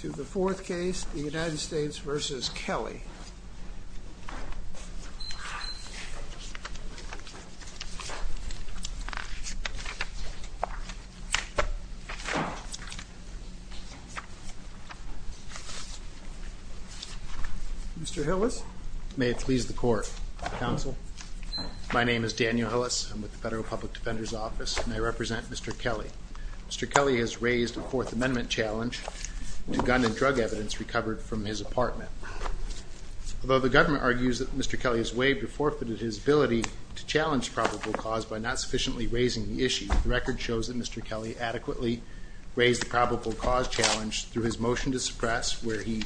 To the fourth case, the United States v. Kelly. Mr. Hillis. May it please the Court. Counsel. My name is Daniel Hillis. I'm with the Federal Public Defender's Office and I represent Mr. Kelly. Mr. Kelly has raised a Fourth Amendment challenge to gun and drug evidence recovered from his apartment. Although the government argues that Mr. Kelly has waived or forfeited his ability to challenge probable cause by not sufficiently raising the issue, the record shows that Mr. Kelly adequately raised the probable cause challenge through his motion to suppress, where he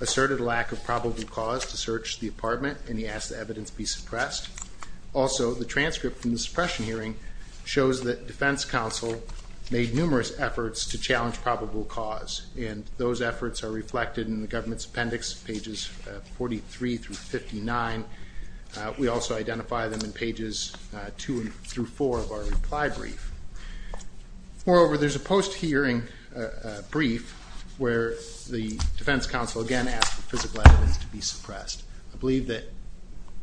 asserted a lack of probable cause to search the apartment and he asked the evidence be suppressed. Also, the transcript from the suppression hearing shows that defense counsel made numerous efforts to challenge probable cause and those efforts are reflected in the government's appendix, pages 43 through 59. We also identify them in pages 2 through 4 of our reply brief. Moreover, there's a post-hearing brief where the defense counsel again asked for physical evidence to be suppressed. I believe that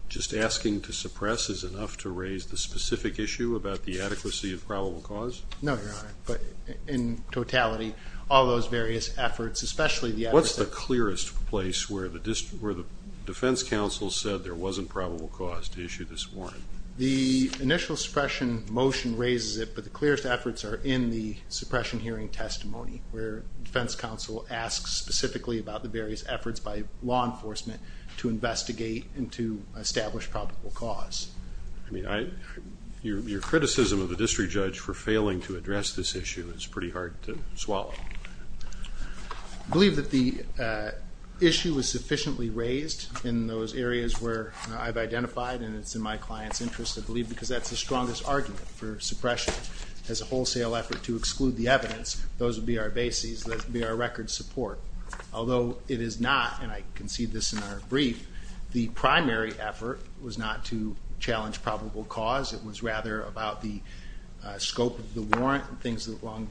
just asking to suppress is enough to raise the specific issue about the adequacy of probable cause? No, Your Honor, but in totality, all those various efforts, especially the efforts that What's the clearest place where the defense counsel said there wasn't probable cause to issue this warrant? The initial suppression motion raises it, but the clearest efforts are in the suppression hearing testimony, where defense counsel asks specifically about the various efforts by law enforcement to investigate and to establish probable cause. I mean, your criticism of the district judge for failing to address this issue is pretty hard to swallow. I believe that the issue was sufficiently raised in those areas where I've identified and it's in my client's interest. I believe because that's the strongest argument for suppression as a wholesale effort to exclude the evidence. Those would be our bases, those would be our record support. Although it is not, and I concede this in our brief, the primary effort was not to challenge probable cause. It was rather about the scope of the warrant and things along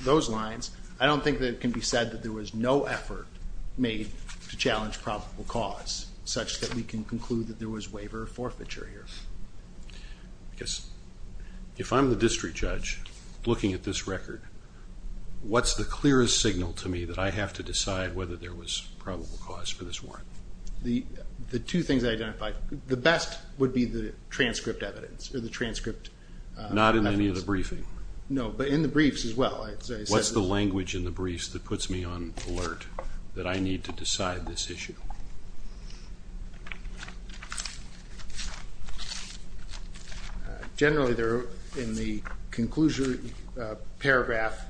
those lines. I don't think that it can be said that there was no effort made to challenge probable cause, such that we can conclude that there was waiver of forfeiture here. If I'm the district judge looking at this record, what's the clearest signal to me that I have to decide whether there was probable cause for this warrant? The two things I identified, the best would be the transcript evidence or the transcript evidence. Not in any of the briefing? No, but in the briefs as well. What's the language in the briefs that puts me on alert that I need to decide this issue? Generally, in the conclusion paragraph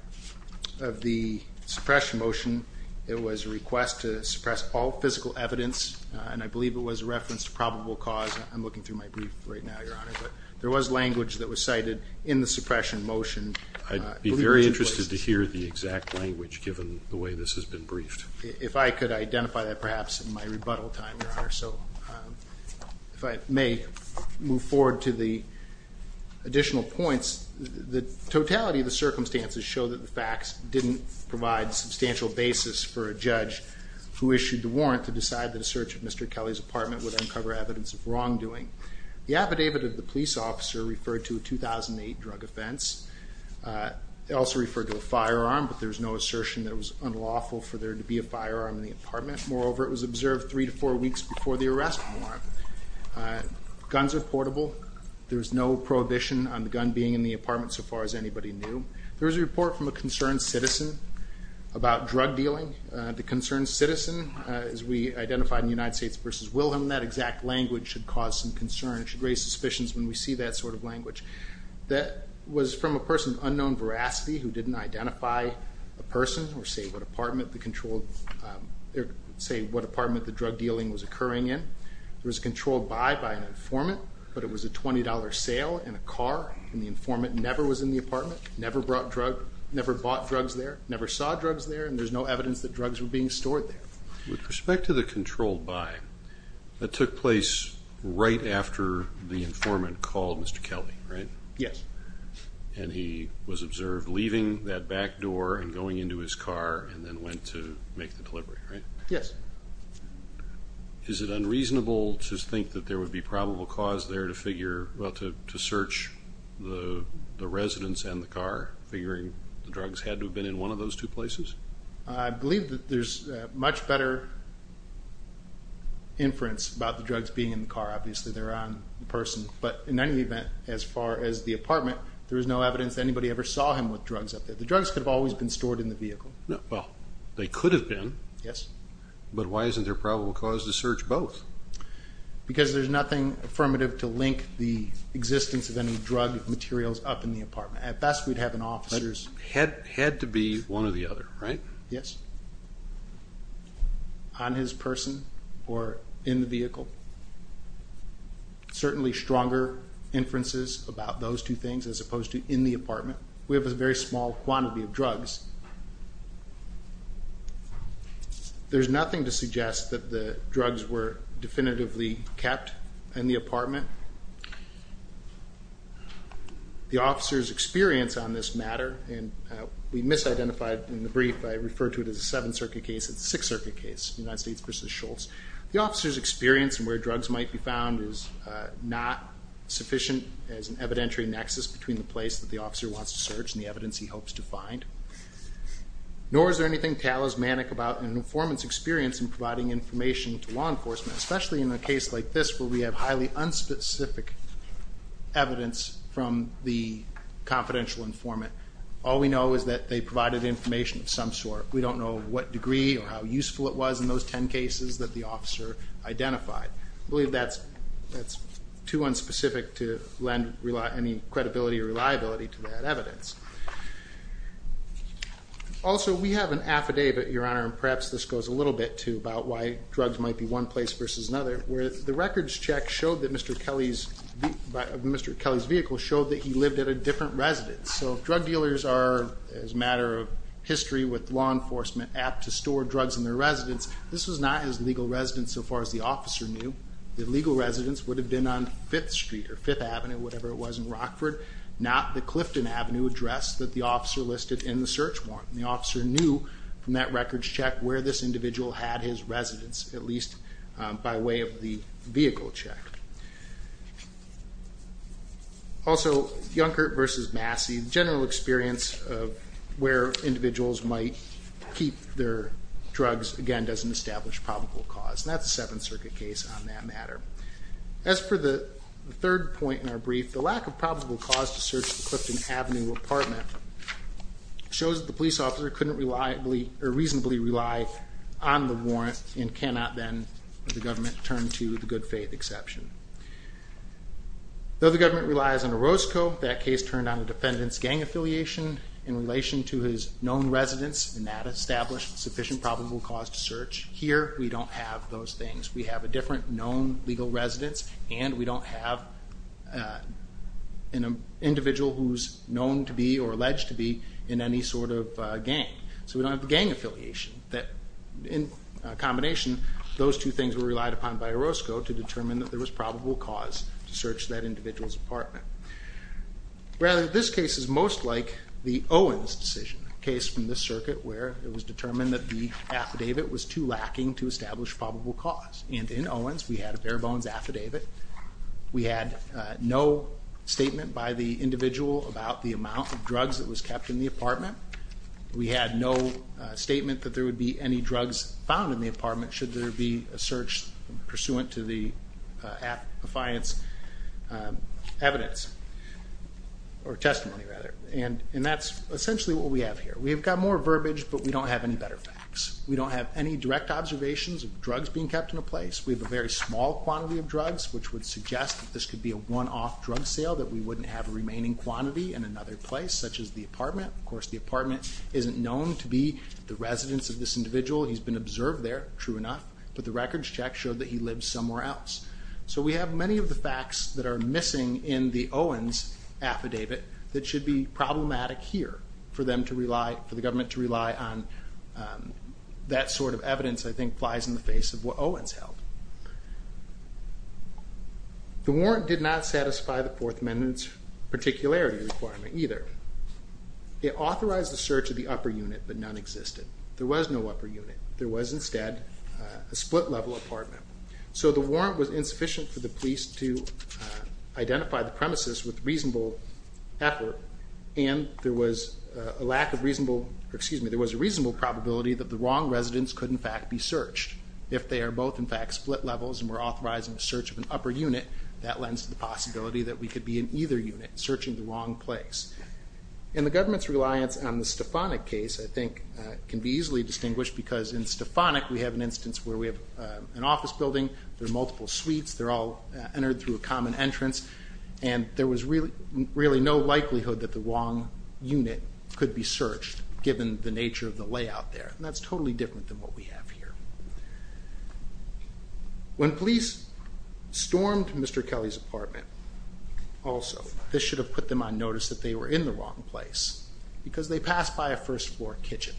of the suppression motion, it was a request to suppress all physical evidence, and I believe it was a reference to probable cause. I'm looking through my brief right now, Your Honor. There was language that was cited in the suppression motion. I'd be very interested to hear the exact language given the way this has been briefed. If I could identify that perhaps in my rebuttal time, Your Honor. If I may move forward to the additional points, the totality of the circumstances show that the facts didn't provide a substantial basis for a judge who issued the warrant to decide that a search of Mr. Kelly's apartment would uncover evidence of wrongdoing. The affidavit of the police officer referred to a 2008 drug offense. It also referred to a firearm, but there was no assertion that it was unlawful for there to be a firearm in the apartment. Moreover, it was observed three to four weeks before the arrest warrant. Guns are portable. There was no prohibition on the gun being in the apartment so far as anybody knew. There was a report from a concerned citizen about drug dealing. The concerned citizen, as we identified in United States v. Wilhelm, that exact language should cause some concern. It should raise suspicions when we see that sort of language. or say what apartment the drug dealing was occurring in. There was a controlled buy by an informant, but it was a $20 sale in a car, and the informant never was in the apartment, never bought drugs there, never saw drugs there, and there's no evidence that drugs were being stored there. With respect to the controlled buy, that took place right after the informant called Mr. Kelly, right? Yes. And he was observed leaving that back door and going into his car and then went to make the delivery, right? Yes. Is it unreasonable to think that there would be probable cause there to figure, well, to search the residence and the car, figuring the drugs had to have been in one of those two places? I believe that there's much better inference about the drugs being in the car. Obviously, they're on the person, but in any event, as far as the apartment, there is no evidence that anybody ever saw him with drugs up there. The drugs could have always been stored in the vehicle. Well, they could have been. Yes. But why isn't there probable cause to search both? Because there's nothing affirmative to link the existence of any drug materials up in the apartment. At best, we'd have an officer's. Had to be one or the other, right? Yes. On his person or in the vehicle. Certainly stronger inferences about those two things as opposed to in the apartment. We have a very small quantity of drugs. There's nothing to suggest that the drugs were definitively kept in the apartment. The officer's experience on this matter, and we misidentified in the brief, I refer to it as a Seventh Circuit case. It's a Sixth Circuit case, United States v. Schultz. The officer's experience and where drugs might be found is not sufficient as an evidentiary nexus between the place that the officer wants to search and the evidence he hopes to find. Nor is there anything talismanic about an informant's experience in providing information to law enforcement, especially in a case like this where we have highly unspecific evidence from the confidential informant. All we know is that they provided information of some sort. We don't know what degree or how useful it was in those ten cases that the officer identified. I believe that's too unspecific to lend any credibility or reliability to that evidence. Also, we have an affidavit, Your Honor, and perhaps this goes a little bit to about why drugs might be one place versus another, where the records check of Mr. Kelly's vehicle showed that he lived at a different residence. So drug dealers are, as a matter of history with law enforcement, apt to store drugs in their residence. This was not his legal residence so far as the officer knew. The legal residence would have been on Fifth Street or Fifth Avenue, whatever it was in Rockford, not the Clifton Avenue address that the officer listed in the search warrant. The officer knew from that records check where this individual had his residence, at least by way of the vehicle check. Also, Yunkert versus Massey, the general experience of where individuals might keep their drugs, again, doesn't establish probable cause, and that's a Seventh Circuit case on that matter. As for the third point in our brief, the lack of probable cause to search the Clifton Avenue apartment shows that the police officer couldn't reasonably rely on the warrant and cannot then, with the government, turn to the good faith exception. Though the government relies on Orozco, that case turned on the defendant's gang affiliation in relation to his known residence, and that established sufficient probable cause to search. Here, we don't have those things. We have a different known legal residence, and we don't have an individual who's known to be or alleged to be in any sort of gang. So we don't have the gang affiliation. In combination, those two things were relied upon by Orozco to determine that there was probable cause to search that individual's apartment. Rather, this case is most like the Owens decision, a case from this circuit where it was determined that the affidavit was too lacking to establish probable cause. And in Owens, we had a bare bones affidavit. We had no statement by the individual about the amount of drugs that was kept in the apartment. We had no statement that there would be any drugs found in the apartment should there be a search pursuant to the affiance evidence, or testimony, rather. And that's essentially what we have here. We've got more verbiage, but we don't have any better facts. We don't have any direct observations of drugs being kept in a place. We have a very small quantity of drugs, which would suggest that this could be a one-off drug sale, that we wouldn't have a remaining quantity in another place, such as the apartment. Of course, the apartment isn't known to be the residence of this individual. He's been observed there, true enough. But the records check showed that he lived somewhere else. So we have many of the facts that are missing in the Owens affidavit that should be problematic here for the government to rely on. That sort of evidence, I think, flies in the face of what Owens held. The warrant did not satisfy the Fourth Amendment's particularity requirement, either. It authorized the search of the upper unit, but none existed. There was no upper unit. There was, instead, a split-level apartment. So the warrant was insufficient for the police to identify the premises with reasonable effort, and there was a reasonable probability that the wrong residence could, in fact, be searched. If they are both, in fact, split levels and were authorized in the search of an upper unit, that lends to the possibility that we could be in either unit, searching the wrong place. And the government's reliance on the Stefanik case, I think, can be easily distinguished, because in Stefanik, we have an instance where we have an office building. There are multiple suites. They're all entered through a common entrance, and there was really no likelihood that the wrong unit could be searched, given the nature of the layout there. And that's totally different than what we have here. When police stormed Mr. Kelly's apartment, also, this should have put them on notice that they were in the wrong place, because they passed by a first-floor kitchen,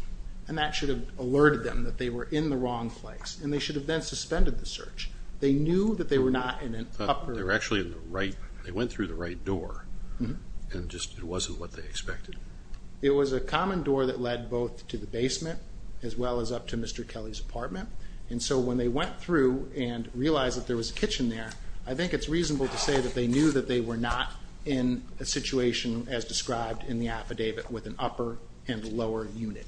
and that should have alerted them that they were in the wrong place, and they should have then suspended the search. They knew that they were not in an upper... They were actually in the right... They went through the right door, and it just wasn't what they expected. It was a common door that led both to the basement as well as up to Mr. Kelly's apartment, and so when they went through and realized that there was a kitchen there, I think it's reasonable to say that they knew that they were not in a situation as described in the affidavit with an upper and lower unit.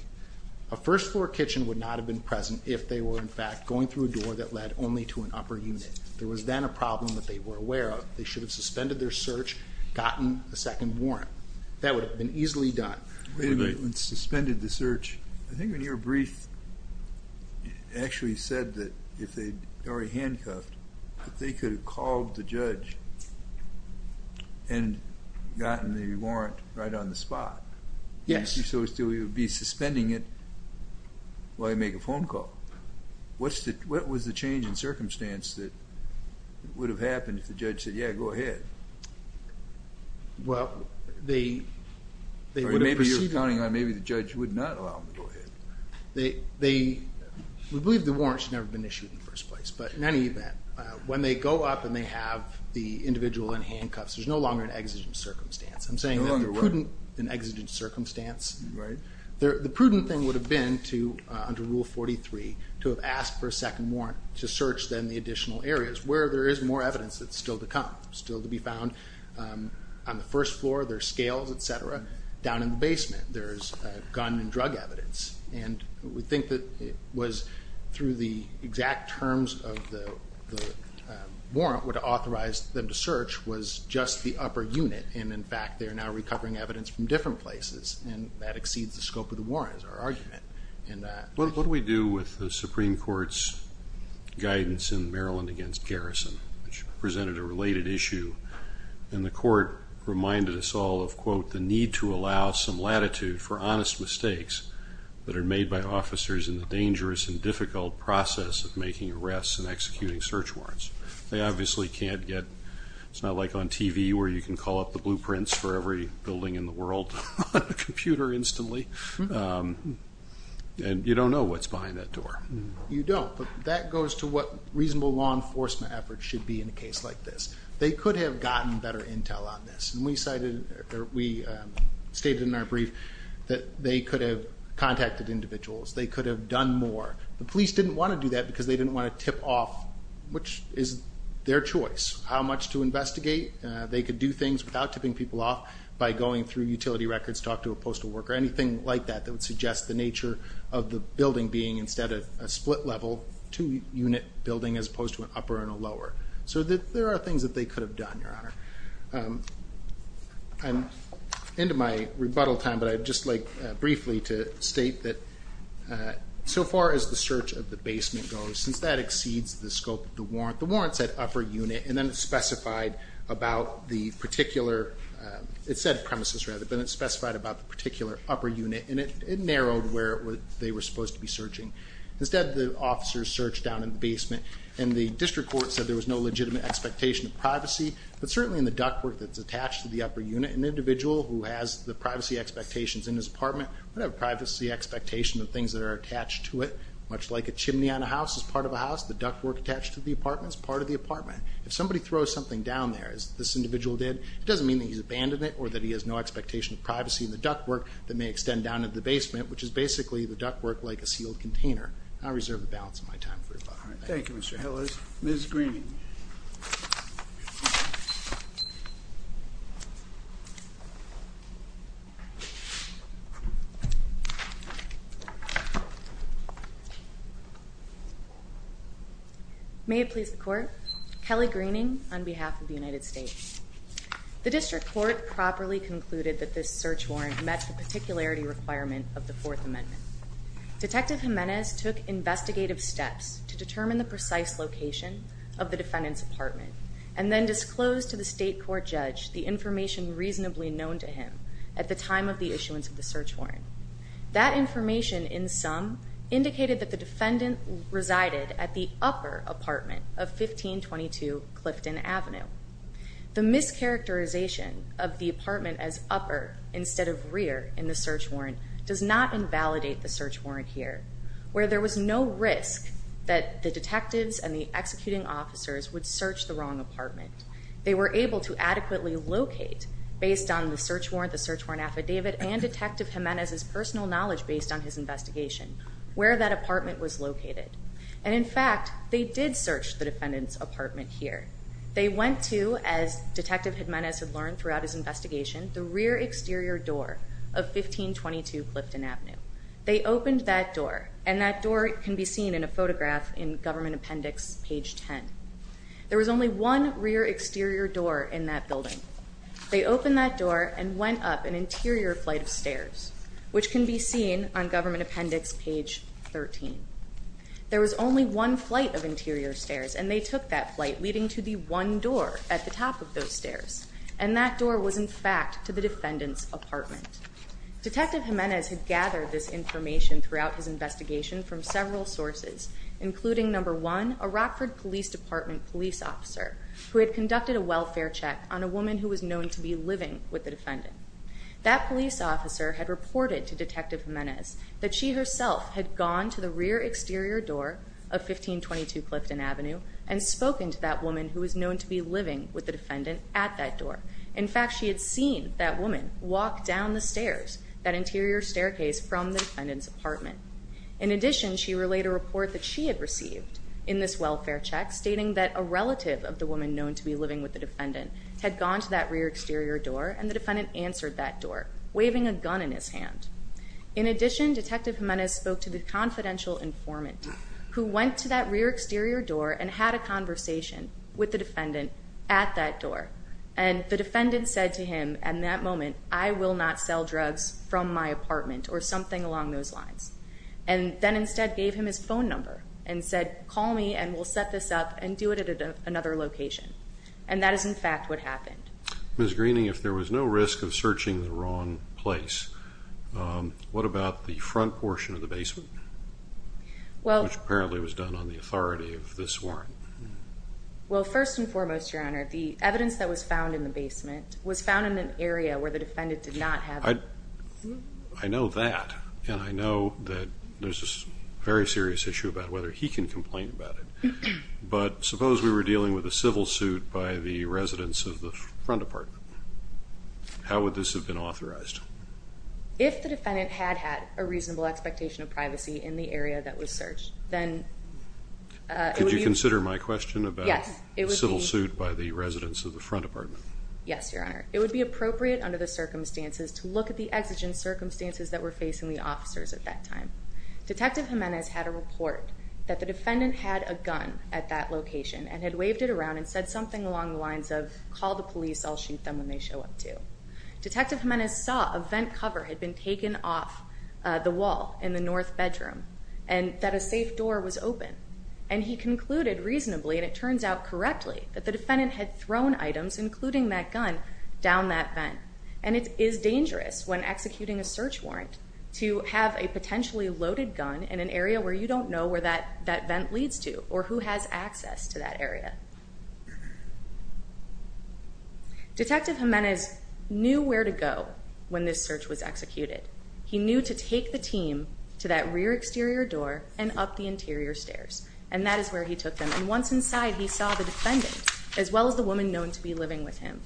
A first-floor kitchen would not have been present if they were, in fact, going through a door that led only to an upper unit. There was then a problem that they were aware of. They should have suspended their search, gotten a second warrant. That would have been easily done. Wait a minute. Suspended the search. I think when you were briefed, it actually said that if they'd already handcuffed, that they could have called the judge and gotten the warrant right on the spot. Yes. I'm guessing so as to be suspending it while you make a phone call. What was the change in circumstance that would have happened if the judge said, yeah, go ahead? Well, they would have proceeded. Maybe you're counting on maybe the judge would not allow them to go ahead. We believe the warrant should never have been issued in the first place, but in any event, when they go up and they have the individual in handcuffs, there's no longer an exigent circumstance. No longer what? An exigent circumstance. Right. The prudent thing would have been to, under Rule 43, to have asked for a second warrant to search then the additional areas where there is more evidence that's still to come, still to be found on the first floor, their scales, et cetera, down in the basement. There's gun and drug evidence, and we think that it was through the exact terms of the warrant would have authorized them to search was just the upper unit, and, in fact, they're now recovering evidence from different places, and that exceeds the scope of the warrant is our argument. What do we do with the Supreme Court's guidance in Maryland against garrison, which presented a related issue, and the court reminded us all of, quote, the need to allow some latitude for honest mistakes that are made by officers in the dangerous and difficult process of making arrests and executing search warrants. They obviously can't get, it's not like on TV where you can call up the blueprints for every building in the world on a computer instantly, and you don't know what's behind that door. You don't, but that goes to what reasonable law enforcement efforts should be in a case like this. They could have gotten better intel on this, and we cited or we stated in our brief that they could have contacted individuals, they could have done more. The police didn't want to do that because they didn't want to tip off, which is their choice how much to investigate. They could do things without tipping people off by going through utility records, talk to a postal worker, anything like that that would suggest the nature of the building being instead of a split level, two unit building as opposed to an upper and a lower. So there are things that they could have done, Your Honor. I'm into my rebuttal time, but I'd just like briefly to state that so far as the search of the basement goes, since that exceeds the scope of the warrant, the warrant said upper unit, and then it specified about the particular, it said premises rather, but it specified about the particular upper unit, and it narrowed where they were supposed to be searching. Instead, the officers searched down in the basement, and the district court said there was no legitimate expectation of privacy, but certainly in the ductwork that's attached to the upper unit, an individual who has the privacy expectations in his apartment would have a privacy expectation of things that are attached to it, much like a chimney on a house is part of a house, the ductwork attached to the apartment is part of the apartment. If somebody throws something down there, as this individual did, it doesn't mean that he's abandoned it or that he has no expectation of privacy in the ductwork that may extend down into the basement, which is basically the ductwork like a sealed container. I reserve the balance of my time for rebuttal. Thank you, Mr. Hillis. Ms. Green. May it please the court. Kelly Greening on behalf of the United States. The district court properly concluded that this search warrant met the particularity requirement of the Fourth Amendment. Detective Jimenez took investigative steps to determine the precise location of the defendant's apartment, and then disclosed to the state court judge the information reasonably known to him at the time of the issuance of the search warrant. That information, in sum, indicated that the defendant resided at the upper apartment of 1522 Clifton Avenue. The mischaracterization of the apartment as upper instead of rear in the search warrant does not invalidate the search warrant here, where there was no risk that the detectives and the executing officers would search the wrong apartment. They were able to adequately locate, based on the search warrant, the search warrant affidavit and Detective Jimenez's personal knowledge based on his investigation, where that apartment was located. And in fact, they did search the defendant's apartment here. They went to, as Detective Jimenez had learned throughout his investigation, the rear exterior door of 1522 Clifton Avenue. They opened that door, and that door can be seen in a photograph in government appendix page 10. There was only one rear exterior door in that building. They opened that door and went up an interior flight of stairs, which can be seen on government appendix page 13. There was only one flight of interior stairs, and they took that flight leading to the one door at the top of those stairs. And that door was, in fact, to the defendant's apartment. Detective Jimenez had gathered this information throughout his investigation from several sources, including, number one, a Rockford Police Department police officer who had conducted a welfare check on a woman who was known to be living with the defendant. That police officer had reported to Detective Jimenez that she herself had gone to the rear exterior door of 1522 Clifton Avenue and spoken to that woman who was known to be living with the defendant at that door. In fact, she had seen that woman walk down the stairs, that interior staircase from the defendant's apartment. In addition, she relayed a report that she had received in this welfare check stating that a relative of the woman known to be living with the defendant had gone to that rear exterior door, and the defendant answered that door, waving a gun in his hand. In addition, Detective Jimenez spoke to the confidential informant who went to that rear exterior door and had a conversation with the defendant at that door. And the defendant said to him at that moment, I will not sell drugs from my apartment or something along those lines, and then instead gave him his phone number and said, call me and we'll set this up and do it at another location. And that is, in fact, what happened. Ms. Greening, if there was no risk of searching the wrong place, what about the front portion of the basement, which apparently was done on the authority of this warrant? Well, first and foremost, Your Honor, the evidence that was found in the basement was found in an area where the defendant did not have it. I know that, and I know that there's a very serious issue about whether he can complain about it, but suppose we were dealing with a civil suit by the residents of the front apartment. How would this have been authorized? If the defendant had had a reasonable expectation of privacy in the area that was searched, then it would be... Could you consider my question about a civil suit by the residents of the front apartment? Yes, Your Honor. It would be appropriate under the circumstances to look at the exigent circumstances that were facing the officers at that time. Detective Jimenez had a report that the defendant had a gun at that location and had waved it around and said something along the lines of, call the police, I'll shoot them when they show up to. Detective Jimenez saw a vent cover had been taken off the wall in the north bedroom and that a safe door was open. And he concluded reasonably, and it turns out correctly, that the defendant had thrown items, including that gun, down that vent. And it is dangerous when executing a search warrant to have a potentially loaded gun in an area where you don't know where that vent leads to or who has access to that area. Detective Jimenez knew where to go when this search was executed. He knew to take the team to that rear exterior door and up the interior stairs, and that is where he took them. And once inside, he saw the defendant, as well as the woman known to be living with him.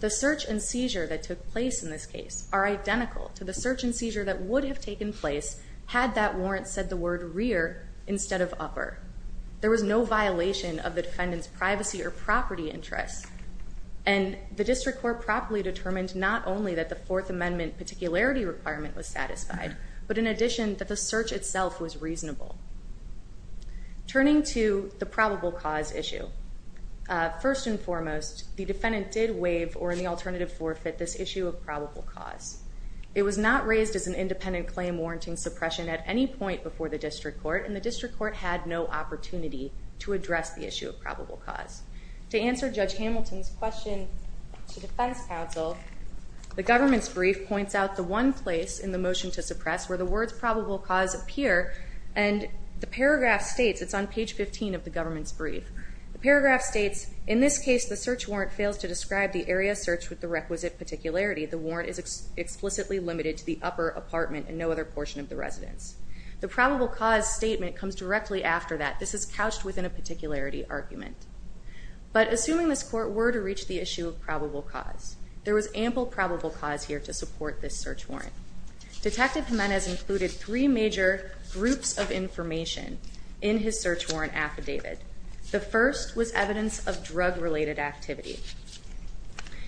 The search and seizure that took place in this case are identical to the search and seizure that would have taken place had that warrant said the word rear instead of upper. There was no violation of the defendant's privacy or property interests. And the district court properly determined not only that the Fourth Amendment particularity requirement was satisfied, but in addition that the search itself was reasonable. first and foremost, the defendant did waive or in the alternative forfeit this issue of probable cause. It was not raised as an independent claim warranting suppression at any point before the district court, and the district court had no opportunity to address the issue of probable cause. To answer Judge Hamilton's question to defense counsel, the government's brief points out the one place in the motion to suppress where the words probable cause appear, and the paragraph states, it's on page 15 of the government's brief, the paragraph states, in this case, the search warrant fails to describe the area searched with the requisite particularity. The warrant is explicitly limited to the upper apartment and no other portion of the residence. The probable cause statement comes directly after that. This is couched within a particularity argument. But assuming this court were to reach the issue of probable cause, there was ample probable cause here to support this search warrant. Detective Jimenez included three major groups of information in his search warrant affidavit. The first was evidence of drug-related activity.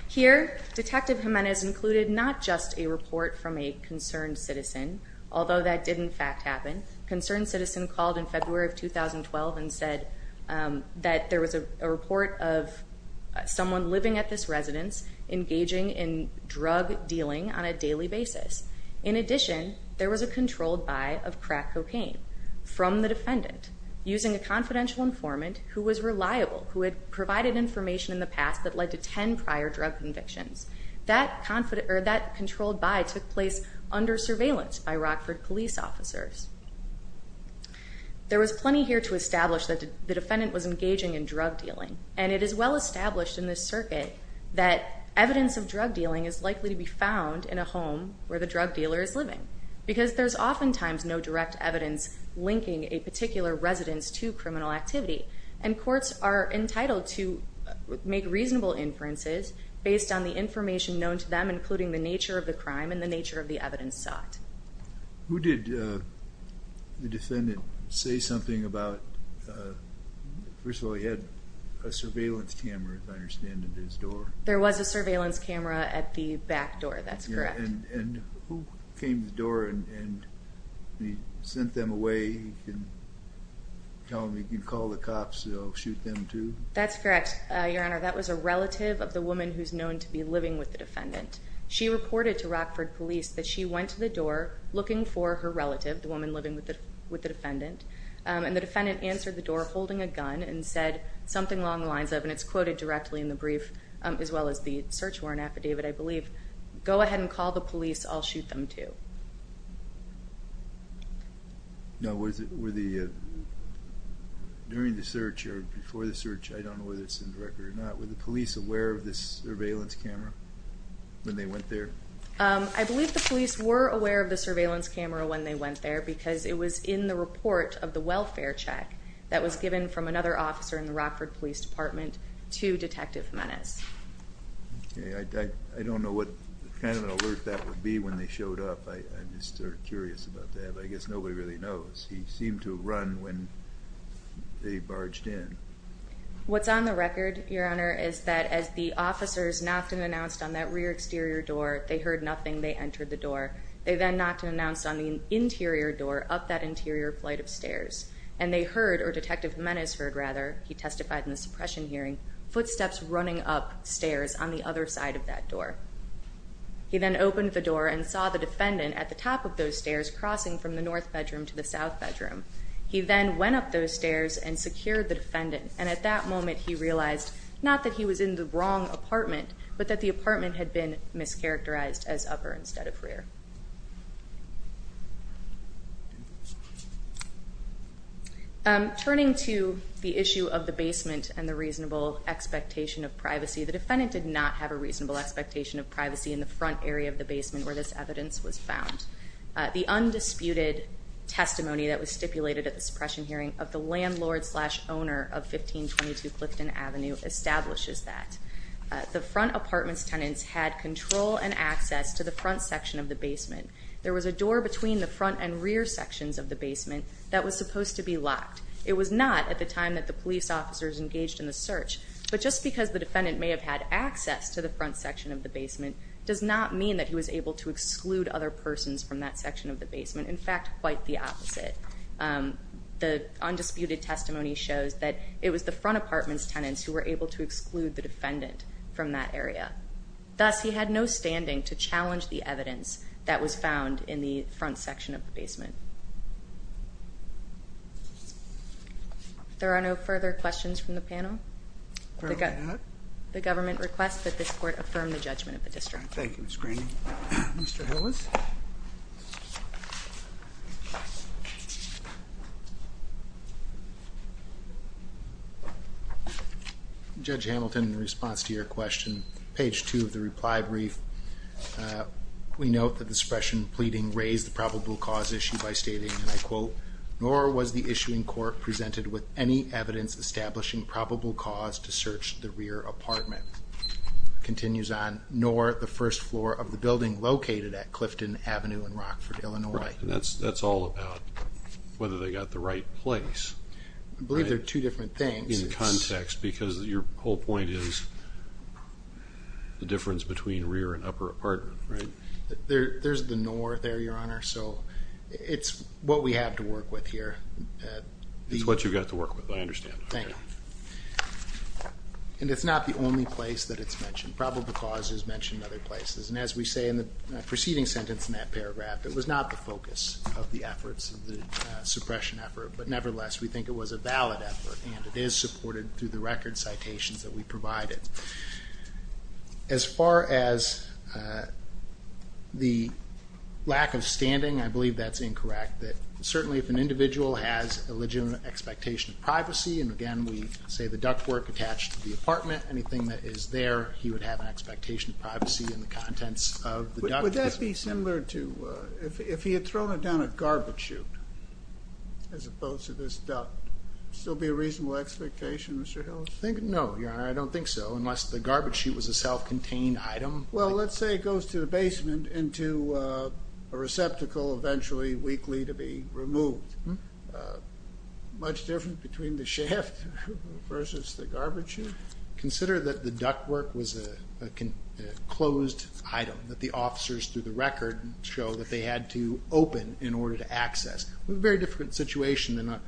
Here, Detective Jimenez included not just a report from a concerned citizen, although that did, in fact, happen. A concerned citizen called in February of 2012 and said that there was a report of someone living at this residence engaging in drug dealing on a daily basis. In addition, there was a controlled buy of crack cocaine from the defendant using a confidential informant who was reliable, who had provided information in the past that led to ten prior drug convictions. That controlled buy took place under surveillance by Rockford police officers. There was plenty here to establish that the defendant was engaging in drug dealing, and it is well established in this circuit that evidence of drug dealing is likely to be found in a home where the drug dealer is living because there's oftentimes no direct evidence linking a particular residence to criminal activity, and courts are entitled to make reasonable inferences based on the information known to them, including the nature of the crime and the nature of the evidence sought. Who did the defendant say something about? First of all, he had a surveillance camera, as I understand, at his door. There was a surveillance camera at the back door. That's correct. And who came to the door and sent them away? You can call the cops, shoot them too? That's correct, Your Honor. That was a relative of the woman who's known to be living with the defendant. She reported to Rockford police that she went to the door looking for her relative, the woman living with the defendant, and the defendant answered the door holding a gun and said something along the lines of, and it's quoted directly in the brief as well as the search warrant affidavit, I believe, go ahead and call the police, I'll shoot them too. Now, during the search or before the search, I don't know whether it's in the record or not, were the police aware of this surveillance camera when they went there? I believe the police were aware of the surveillance camera when they went there because it was in the report of the welfare check that was given from another officer in the Rockford Police Department to Detective Menace. I don't know what kind of an alert that would be when they showed up. I'm just sort of curious about that. I guess nobody really knows. He seemed to run when they barged in. What's on the record, Your Honor, is that as the officers knocked and announced on that rear exterior door, they heard nothing, they entered the door. They then knocked and announced on the interior door up that interior flight of stairs, and they heard, or Detective Menace heard rather, he testified in the suppression hearing, footsteps running up stairs on the other side of that door. He then opened the door and saw the defendant at the top of those stairs crossing from the north bedroom to the south bedroom. He then went up those stairs and secured the defendant, and at that moment he realized not that he was in the wrong apartment, but that the apartment had been mischaracterized as upper instead of rear. Thank you. Turning to the issue of the basement and the reasonable expectation of privacy, the defendant did not have a reasonable expectation of privacy in the front area of the basement where this evidence was found. The undisputed testimony that was stipulated at the suppression hearing of the landlord slash owner of 1522 Clifton Avenue establishes that. The front apartment's tenants had control and access to the front section of the basement. There was a door between the front and rear sections of the basement that was supposed to be locked. It was not at the time that the police officers engaged in the search, but just because the defendant may have had access to the front section of the basement does not mean that he was able to exclude other persons from that section of the basement. In fact, quite the opposite. The undisputed testimony shows that it was the front apartment's tenants who were able to exclude the defendant from that area. Thus, he had no standing to challenge the evidence that was found in the front section of the basement. If there are no further questions from the panel, the government requests that this court affirm the judgment of the district. Thank you, Ms. Green. Thank you, Mr. Hillis. Judge Hamilton, in response to your question, page two of the reply brief, we note that the suppression pleading raised the probable cause issue by stating, and I quote, nor was the issuing court presented with any evidence establishing probable cause to search the rear apartment. It continues on, nor the first floor of the building located at Clifton Avenue in Rockford, Illinois. That's all about whether they got the right place. I believe they're two different things. In context, because your whole point is the difference between rear and upper apartment, right? There's the nor there, Your Honor, so it's what we have to work with here. It's what you've got to work with, I understand. Thank you. And it's not the only place that it's mentioned. Probable cause is mentioned in other places. And as we say in the preceding sentence in that paragraph, it was not the focus of the efforts, the suppression effort, but nevertheless, we think it was a valid effort, and it is supported through the record citations that we provided. As far as the lack of standing, I believe that's incorrect, that certainly if an individual has a legitimate expectation of privacy, and again, we say the ductwork attached to the apartment, anything that is there, he would have an expectation of privacy in the contents of the duct. Would that be similar to if he had thrown it down a garbage chute as opposed to this duct? Would it still be a reasonable expectation, Mr. Hills? No, Your Honor, I don't think so, unless the garbage chute was a self-contained item. Well, let's say it goes to the basement into a receptacle, eventually, weekly, to be removed. Much different between the shaft versus the garbage chute? Consider that the ductwork was a closed item that the officers, through the record, show that they had to open in order to access. We have a very different situation than a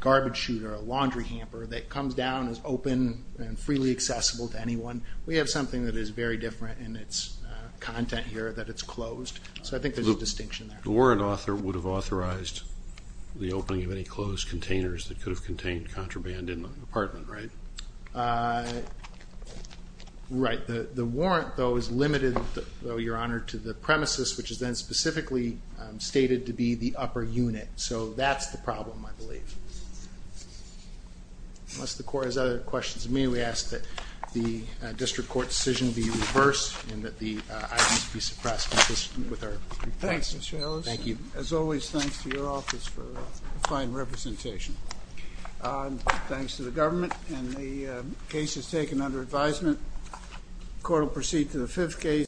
garbage chute or a laundry hamper that comes down as open and freely accessible to anyone. We have something that is very different in its content here, that it's closed. So I think there's a distinction there. The warrant author would have authorized the opening of any closed containers that could have contained contraband in the apartment, right? Right. The warrant, though, is limited, Your Honor, to the premises, which is then specifically stated to be the upper unit. So that's the problem, I believe. Unless the Court has other questions of me, we ask that the district court decision be reversed and that the items be suppressed. Thanks, Mr. Ellis. Thank you. As always, thanks to your office for fine representation. Thanks to the government and the cases taken under advisement. Court will proceed to the fifth case.